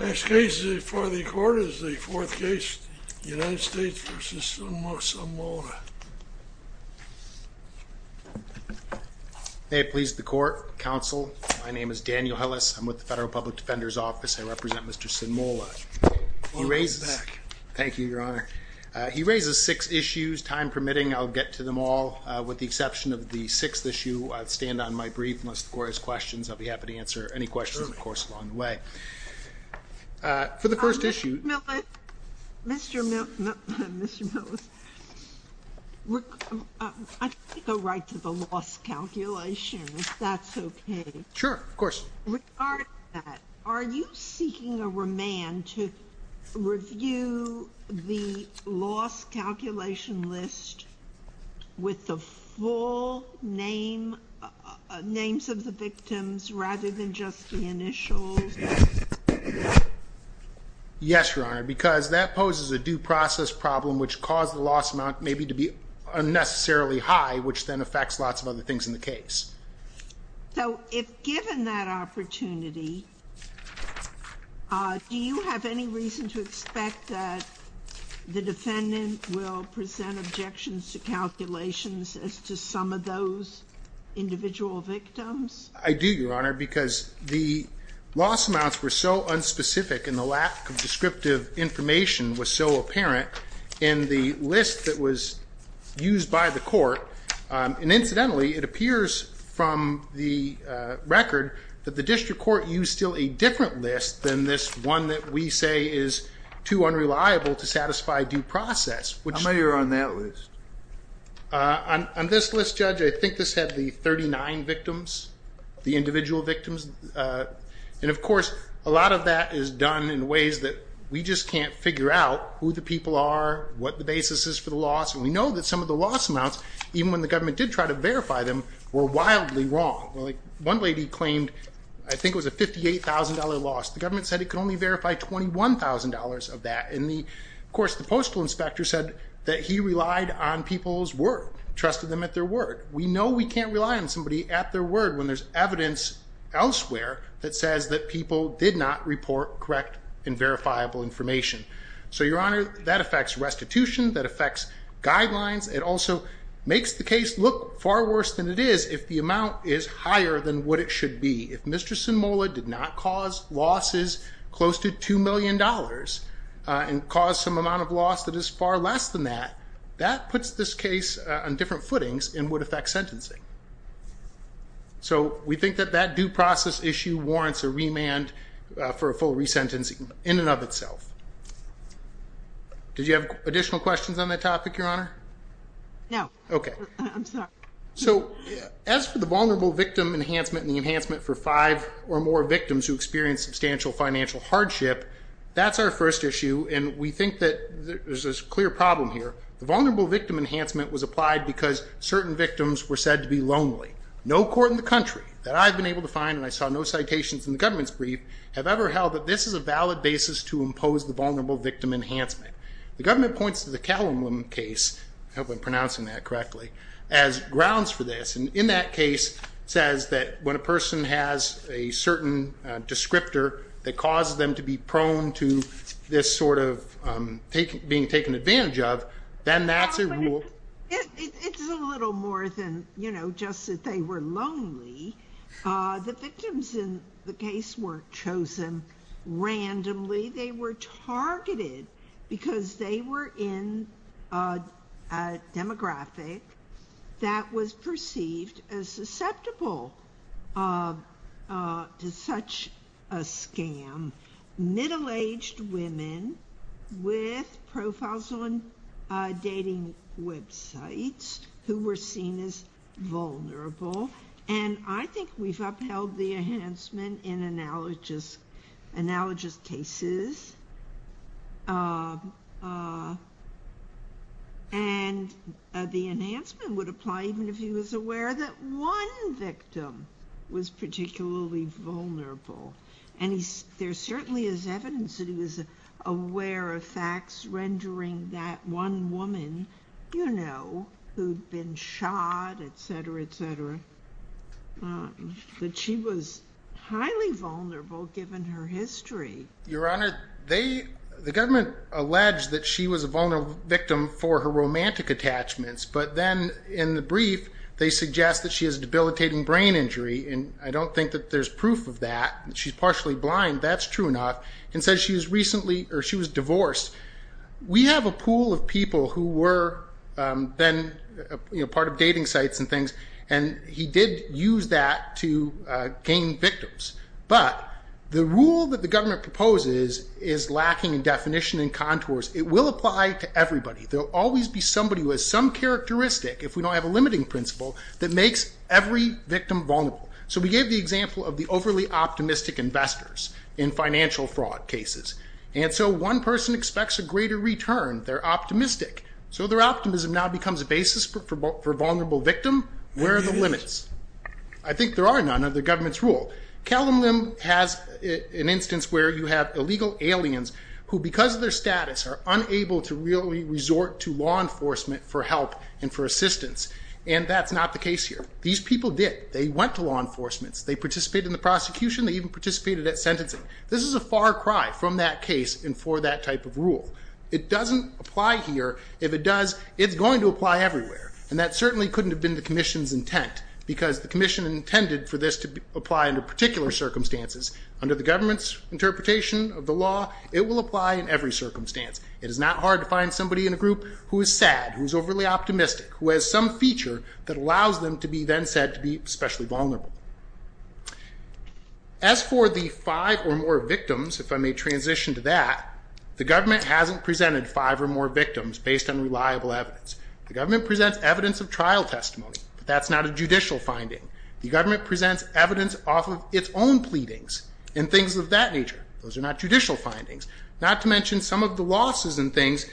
Next case before the court is the fourth case United States v. Sunmola May it please the court, counsel, my name is Daniel Hellis, I'm with the Federal Public Defender's Office, I represent Mr. Sunmola He raises six issues, time permitting I'll get to them all, with the exception of the sixth issue I'll stand on my brief unless the court has questions, I'll be happy to answer any questions of course along the way For the first issue Mr. Millett, I'd like to go right to the loss calculation if that's okay Sure, of course Regarding that, are you seeking a remand to review the loss calculation list with the full names of the victims rather than just the initials? Yes, Your Honor, because that poses a due process problem which caused the loss amount maybe to be unnecessarily high which then affects lots of other things in the case So if given that opportunity, do you have any reason to expect that the defendant will present objections to calculations as to some of those individual victims? I do, Your Honor, because the loss amounts were so unspecific and the lack of descriptive information was so apparent in the list that was used by the court, and incidentally it appears from the record that the district court used still a different list than this one that we say is too unreliable to satisfy due process How many are on that list? On this list, Judge, I think this had the 39 victims, the individual victims, and of course a lot of that is done in ways that we just can't figure out who the people are, what the basis is for the loss And we know that some of the loss amounts, even when the government did try to verify them, were wildly wrong One lady claimed, I think it was a $58,000 loss, the government said it could only verify $21,000 of that And of course the postal inspector said that he relied on people's word, trusted them at their word We know we can't rely on somebody at their word when there's evidence elsewhere that says that people did not report correct and verifiable information So your honor, that affects restitution, that affects guidelines, it also makes the case look far worse than it is if the amount is higher than what it should be If Mr. Sinmola did not cause losses close to $2 million and caused some amount of loss that is far less than that, that puts this case on different footings and would affect sentencing So we think that that due process issue warrants a remand for a full resentencing in and of itself Did you have additional questions on that topic your honor? No, I'm sorry So as for the vulnerable victim enhancement and the enhancement for five or more victims who experience substantial financial hardship That's our first issue and we think that there's a clear problem here The vulnerable victim enhancement was applied because certain victims were said to be lonely No court in the country that I've been able to find and I saw no citations in the government's brief have ever held that this is a valid basis to impose the vulnerable victim enhancement The government points to the Callum case, I hope I'm pronouncing that correctly, as grounds for this And in that case says that when a person has a certain descriptor that causes them to be prone to this sort of being taken advantage of, then that's a rule It's a little more than just that they were lonely The victims in the case were chosen randomly, they were targeted because they were in a demographic that was perceived as susceptible to such a scam Middle-aged women with profiles on dating websites who were seen as vulnerable And I think we've upheld the enhancement in analogous cases And the enhancement would apply even if he was aware that one victim was particularly vulnerable And there certainly is evidence that he was aware of facts rendering that one woman, you know, who'd been shot, etc, etc That she was highly vulnerable given her history Your Honor, the government alleged that she was a vulnerable victim for her romantic attachments But then in the brief they suggest that she has debilitating brain injury And I don't think that there's proof of that, she's partially blind, that's true enough And says she was recently, or she was divorced We have a pool of people who were then part of dating sites and things And he did use that to gain victims But the rule that the government proposes is lacking in definition and contours It will apply to everybody There will always be somebody who has some characteristic, if we don't have a limiting principle That makes every victim vulnerable So we gave the example of the overly optimistic investors in financial fraud cases And so one person expects a greater return, they're optimistic So their optimism now becomes a basis for vulnerable victim, where are the limits? I think there are none under the government's rule Callum Lim has an instance where you have illegal aliens Who because of their status are unable to really resort to law enforcement for help and for assistance And that's not the case here These people did, they went to law enforcement They participated in the prosecution, they even participated at sentencing This is a far cry from that case and for that type of rule It doesn't apply here, if it does, it's going to apply everywhere And that certainly couldn't have been the commission's intent Because the commission intended for this to apply under particular circumstances Under the government's interpretation of the law, it will apply in every circumstance It is not hard to find somebody in a group who is sad, who is overly optimistic Who has some feature that allows them to be then said to be especially vulnerable As for the five or more victims, if I may transition to that The government hasn't presented five or more victims based on reliable evidence The government presents evidence of trial testimony, but that's not a judicial finding The government presents evidence off of its own pleadings and things of that nature Those are not judicial findings Not to mention some of the losses and things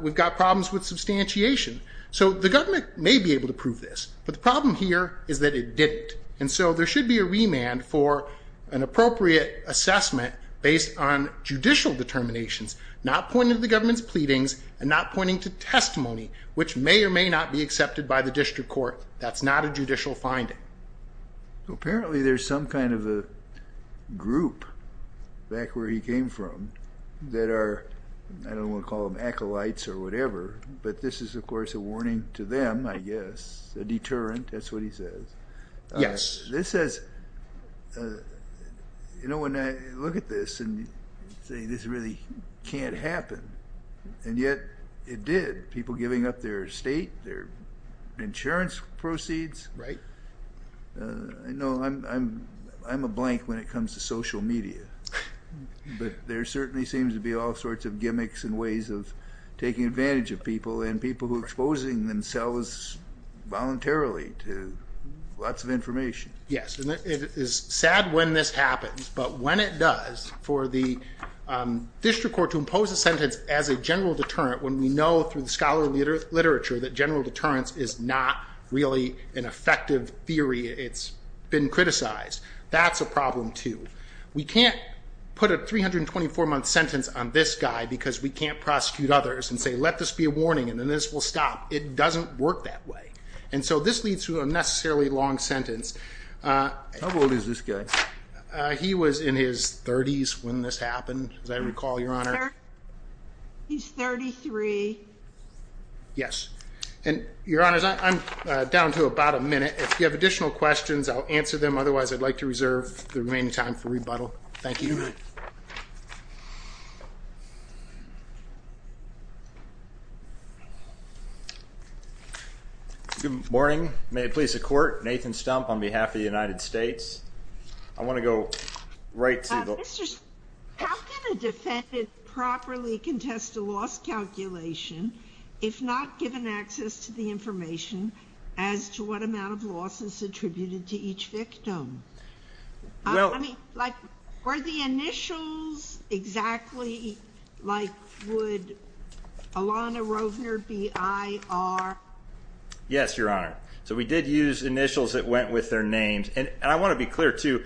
We've got problems with substantiation So the government may be able to prove this But the problem here is that it didn't And so there should be a remand for an appropriate assessment Based on judicial determinations Not pointing to the government's pleadings and not pointing to testimony Which may or may not be accepted by the district court That's not a judicial finding So apparently there's some kind of a group back where he came from That are, I don't want to call them acolytes or whatever But this is of course a warning to them, I guess A deterrent, that's what he says Yes This says, you know when I look at this and say this really can't happen And yet it did, people giving up their estate, their insurance proceeds Right No, I'm a blank when it comes to social media But there certainly seems to be all sorts of gimmicks and ways of taking advantage of people And people who are exposing themselves voluntarily to lots of information Yes, and it is sad when this happens But when it does, for the district court to impose a sentence as a general deterrent When we know through the scholarly literature that general deterrence is not really an effective theory It's been criticized, that's a problem too We can't put a 324 month sentence on this guy because we can't prosecute others And say let this be a warning and then this will stop It doesn't work that way And so this leads to a necessarily long sentence How old is this guy? He was in his 30s when this happened, as I recall, your honor He's 33 Yes, and your honors, I'm down to about a minute If you have additional questions, I'll answer them Otherwise I'd like to reserve the remaining time for rebuttal Thank you Good morning, may it please the court, Nathan Stump on behalf of the United States I want to go right to the... How can a defendant properly contest a loss calculation If not given access to the information as to what amount of losses attributed to each victim? Were the initials exactly like would Alana Rovner be IR? Yes, your honor So we did use initials that went with their names And I want to be clear too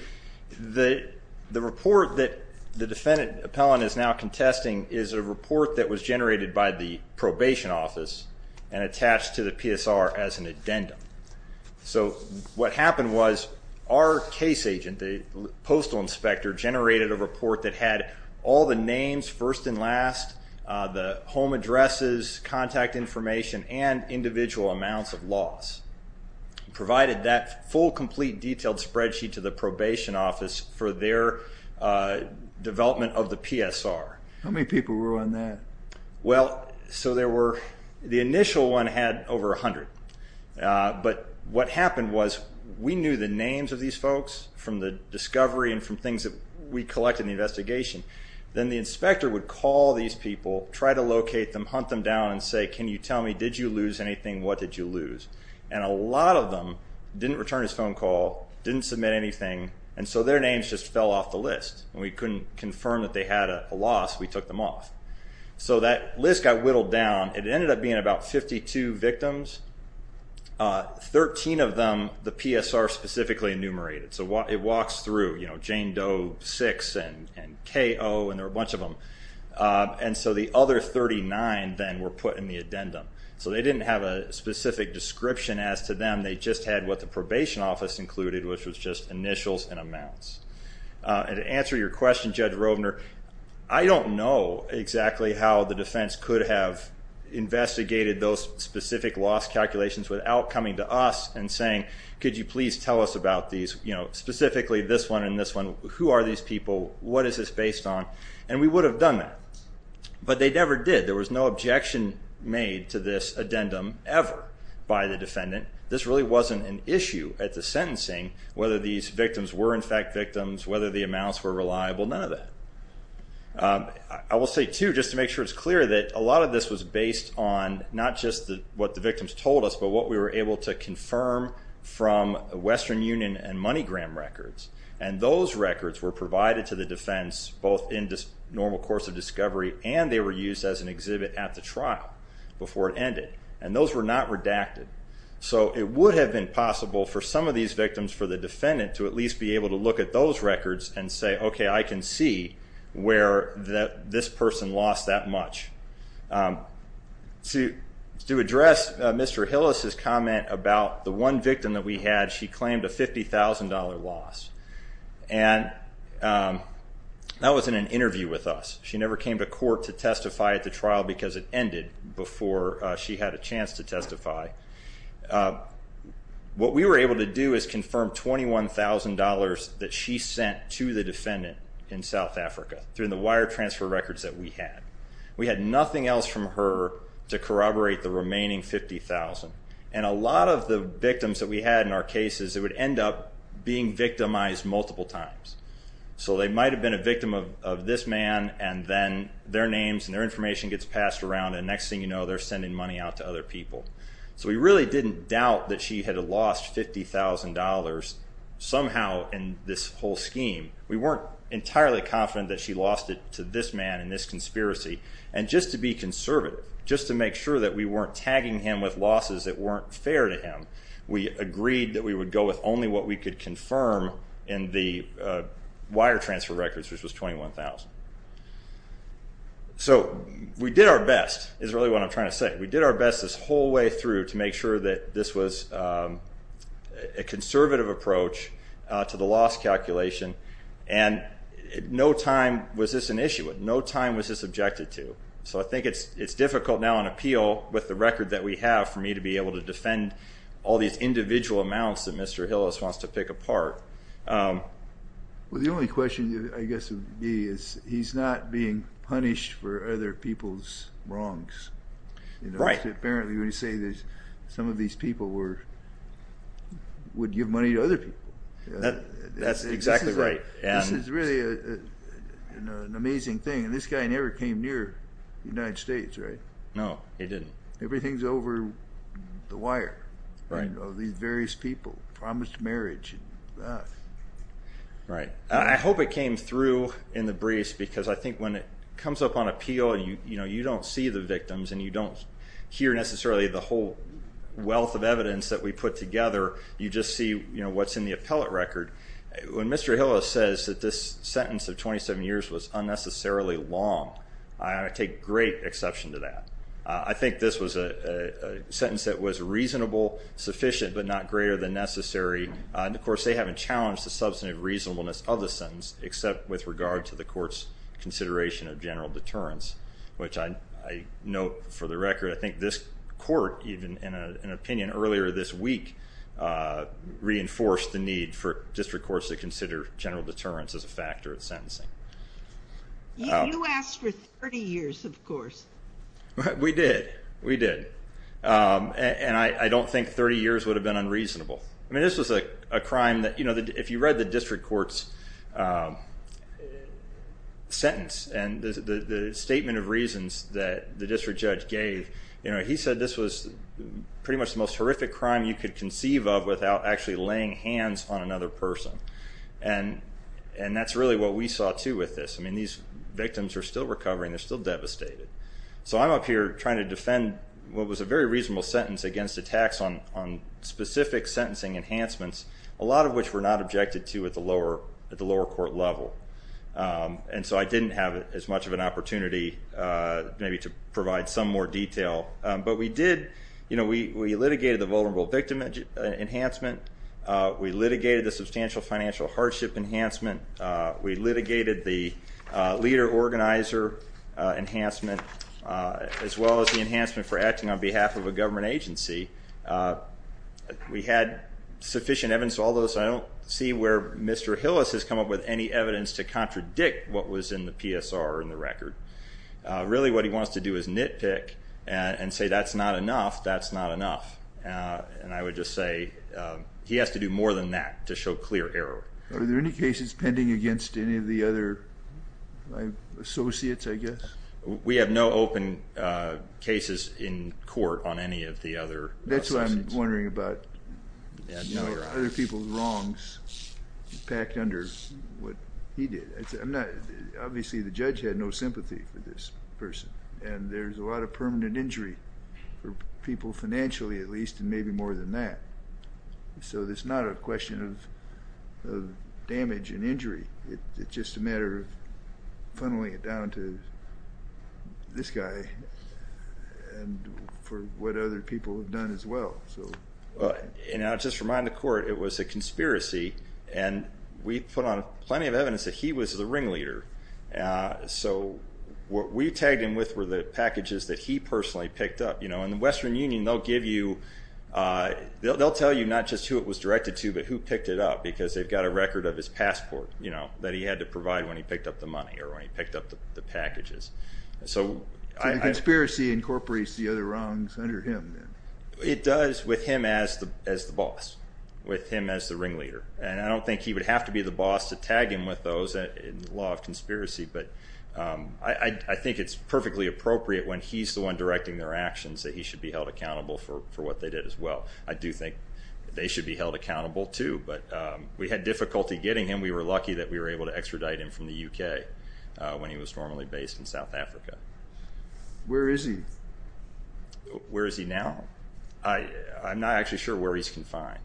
The report that the defendant appellant is now contesting Is a report that was generated by the probation office And attached to the PSR as an addendum So what happened was our case agent, the postal inspector Generated a report that had all the names first and last The home addresses, contact information, and individual amounts of loss Provided that full complete detailed spreadsheet to the probation office For their development of the PSR How many people were on that? Well, so there were... the initial one had over a hundred But what happened was we knew the names of these folks From the discovery and from things that we collected in the investigation Then the inspector would call these people, try to locate them, hunt them down And say, can you tell me, did you lose anything, what did you lose? And a lot of them didn't return his phone call, didn't submit anything And so their names just fell off the list And we couldn't confirm that they had a loss, we took them off So that list got whittled down It ended up being about 52 victims 13 of them, the PSR specifically enumerated So it walks through, you know, Jane Doe 6 and K.O. And there were a bunch of them And so the other 39 then were put in the addendum So they didn't have a specific description as to them They just had what the probation office included Which was just initials and amounts And to answer your question, Judge Rovner I don't know exactly how the defense could have Investigated those specific loss calculations without coming to us And saying, could you please tell us about these Specifically this one and this one Who are these people, what is this based on And we would have done that But they never did, there was no objection made to this addendum Ever by the defendant This really wasn't an issue at the sentencing Whether these victims were in fact victims Whether the amounts were reliable, none of that I will say too, just to make sure it's clear That a lot of this was based on Not just what the victims told us But what we were able to confirm From Western Union and MoneyGram records And those records were provided to the defense Both in normal course of discovery And they were used as an exhibit at the trial Before it ended And those were not redacted So it would have been possible for some of these victims For the defendant to at least be able to look at those records And say, okay, I can see where this person lost that much To address Mr. Hillis' comment about the one victim that we had She claimed a $50,000 loss And that was in an interview with us She never came to court to testify at the trial Because it ended before she had a chance to testify What we were able to do is confirm $21,000 That she sent to the defendant in South Africa Through the wire transfer records that we had We had nothing else from her To corroborate the remaining $50,000 And a lot of the victims that we had in our cases It would end up being victimized multiple times So they might have been a victim of this man And then their names and their information gets passed around And next thing you know, they're sending money out to other people So we really didn't doubt that she had lost $50,000 Somehow in this whole scheme We weren't entirely confident that she lost it to this man In this conspiracy And just to be conservative Just to make sure that we weren't tagging him with losses That weren't fair to him We agreed that we would go with only what we could confirm In the wire transfer records Which was $21,000 So we did our best Is really what I'm trying to say We did our best this whole way through To make sure that this was a conservative approach To the loss calculation And no time was this an issue No time was this objected to So I think it's difficult now on appeal With the record that we have For me to be able to defend all these individual amounts That Mr. Hillis wants to pick apart Well the only question I guess would be He's not being punished for other people's wrongs Right Apparently when you say that some of these people were Would give money to other people That's exactly right This is really an amazing thing And this guy never came near the United States, right? No, he didn't Everything's over the wire Right Of these various people Promised marriage Right I hope it came through in the briefs Because I think when it comes up on appeal You don't see the victims And you don't hear necessarily the whole wealth of evidence That we put together You just see what's in the appellate record When Mr. Hillis says that this sentence of 27 years Was unnecessarily long I take great exception to that I think this was a sentence That was reasonable, sufficient But not greater than necessary And of course they haven't challenged The substantive reasonableness of the sentence Except with regard to the court's Consideration of general deterrence Which I note for the record I think this court, even in an opinion Earlier this week Reinforced the need for district courts To consider general deterrence as a factor of sentencing You asked for 30 years, of course We did, we did And I don't think 30 years would have been unreasonable I mean this was a crime that If you read the district court's Sentence And the statement of reasons That the district judge gave He said this was pretty much the most horrific crime You could conceive of Without actually laying hands on another person And that's really what we saw too with this I mean these victims are still recovering They're still devastated So I'm up here trying to defend What was a very reasonable sentence Against attacks on specific sentencing enhancements A lot of which were not objected to At the lower court level And so I didn't have as much of an opportunity Maybe to provide some more detail But we did We litigated the vulnerable victim enhancement We litigated the substantial financial hardship enhancement We litigated the leader organizer Enhancement As well as the enhancement For acting on behalf of a government agency We had sufficient evidence Although I don't see where Mr. Hillis has come up with any evidence To contradict what was in the PSR Or in the record Really what he wants to do is nitpick And say that's not enough That's not enough And I would just say He has to do more than that To show clear error Are there any cases pending Against any of the other Associates I guess We have no open cases in court On any of the other That's what I'm wondering about Other people's wrongs Packed under what he did Obviously the judge had no sympathy for this person And there's a lot of permanent injury For people financially at least And maybe more than that So it's not a question of Damage and injury It's just a matter of Funneling it down to This guy And for what other people Have done as well And I'll just remind the court It was a conspiracy And we put on plenty of evidence That he was the ringleader So what we tagged him with Were the packages that he personally Picked up, you know In the Western Union they'll give you They'll tell you not just who it was directed to But who picked it up Because they've got a record of his passport That he had to provide when he picked up the money Or when he picked up the packages So the conspiracy incorporates The other wrongs under him It does with him as the boss With him as the ringleader And I don't think he would have to be the boss To tag him with those In the law of conspiracy But I think it's perfectly appropriate When he's the one directing their actions That he should be held accountable For what they did as well I do think they should be held accountable too But we had difficulty getting him We were lucky that we were able to extradite him From the UK When he was normally based in South Africa Where is he? Where is he now? I'm not actually sure where he's confined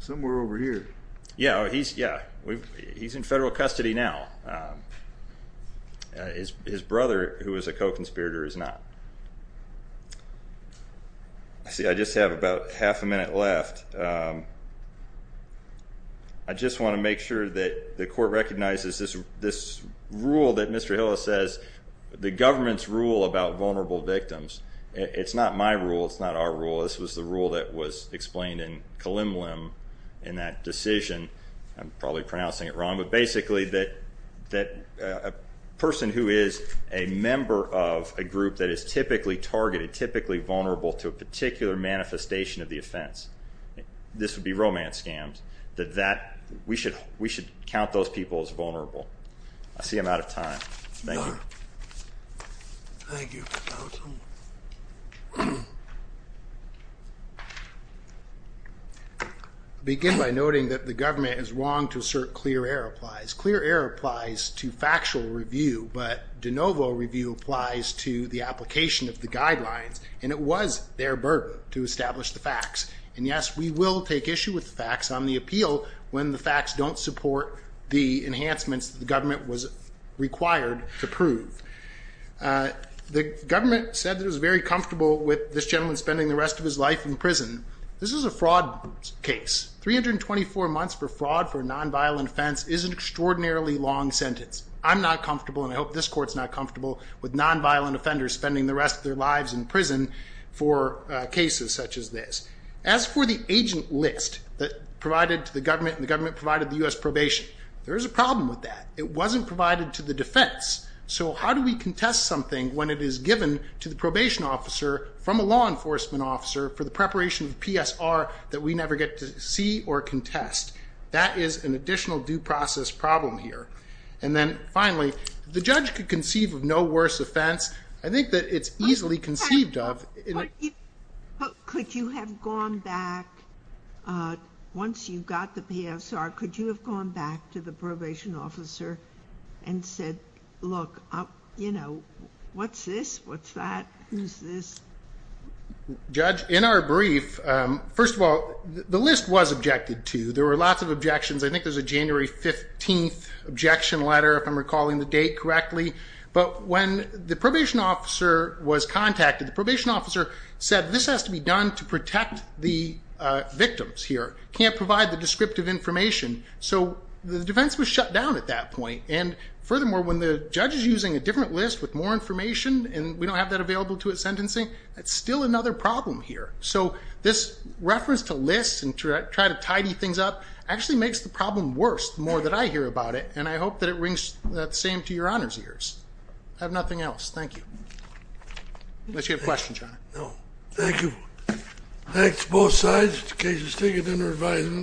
Somewhere over here Yeah, he's in federal custody now His brother, who was a co-conspirator, is not I see I just have about half a minute left I just want to make sure that the court recognizes This rule that Mr. Hill has said The government's rule about vulnerable victims It's not my rule, it's not our rule This was the rule that was explained in Kalemlem In that decision I'm probably pronouncing it wrong But basically that a person who is a member of a group That is typically targeted, typically vulnerable To a particular manifestation of the offense This would be romance scams We should count those people as vulnerable I see I'm out of time Thank you Thank you Begin by noting that the government is wrong To assert clear air applies Clear air applies to factual review But de novo review applies to the application of the guidelines And it was their burden to establish the facts And yes, we will take issue with the facts on the appeal When the facts don't support the enhancements The government was required to prove The government said it was very comfortable With this gentleman spending the rest of his life in prison This is a fraud case 324 months for fraud for a non-violent offense Is an extraordinarily long sentence I'm not comfortable, and I hope this court is not comfortable With non-violent offenders spending the rest of their lives in prison For cases such as this As for the agent list Provided to the government And the government provided the U.S. probation There is a problem with that It wasn't provided to the defense So how do we contest something When it is given to the probation officer From a law enforcement officer For the preparation of PSR That we never get to see or contest That is an additional due process problem here And then finally The judge could conceive of no worse offense I think that it is easily conceived of Could you have gone back Once you got the PSR Could you have gone back to the probation officer And said, look, you know What's this, what's that, who's this Judge, in our brief First of all, the list was objected to There were lots of objections I think there was a January 15th objection letter If I'm recalling the date correctly But when the probation officer was contacted The probation officer said This has to be done to protect the victims here Can't provide the descriptive information So the defense was shut down at that point And furthermore, when the judge is using a different list With more information And we don't have that available to it sentencing That's still another problem here So this reference to lists And to try to tidy things up Actually makes the problem worse The more that I hear about it And I hope that it rings the same to your honor's ears I have nothing else, thank you Unless you have questions, your honor No, thank you Thanks both sides In case you stick it in your advisement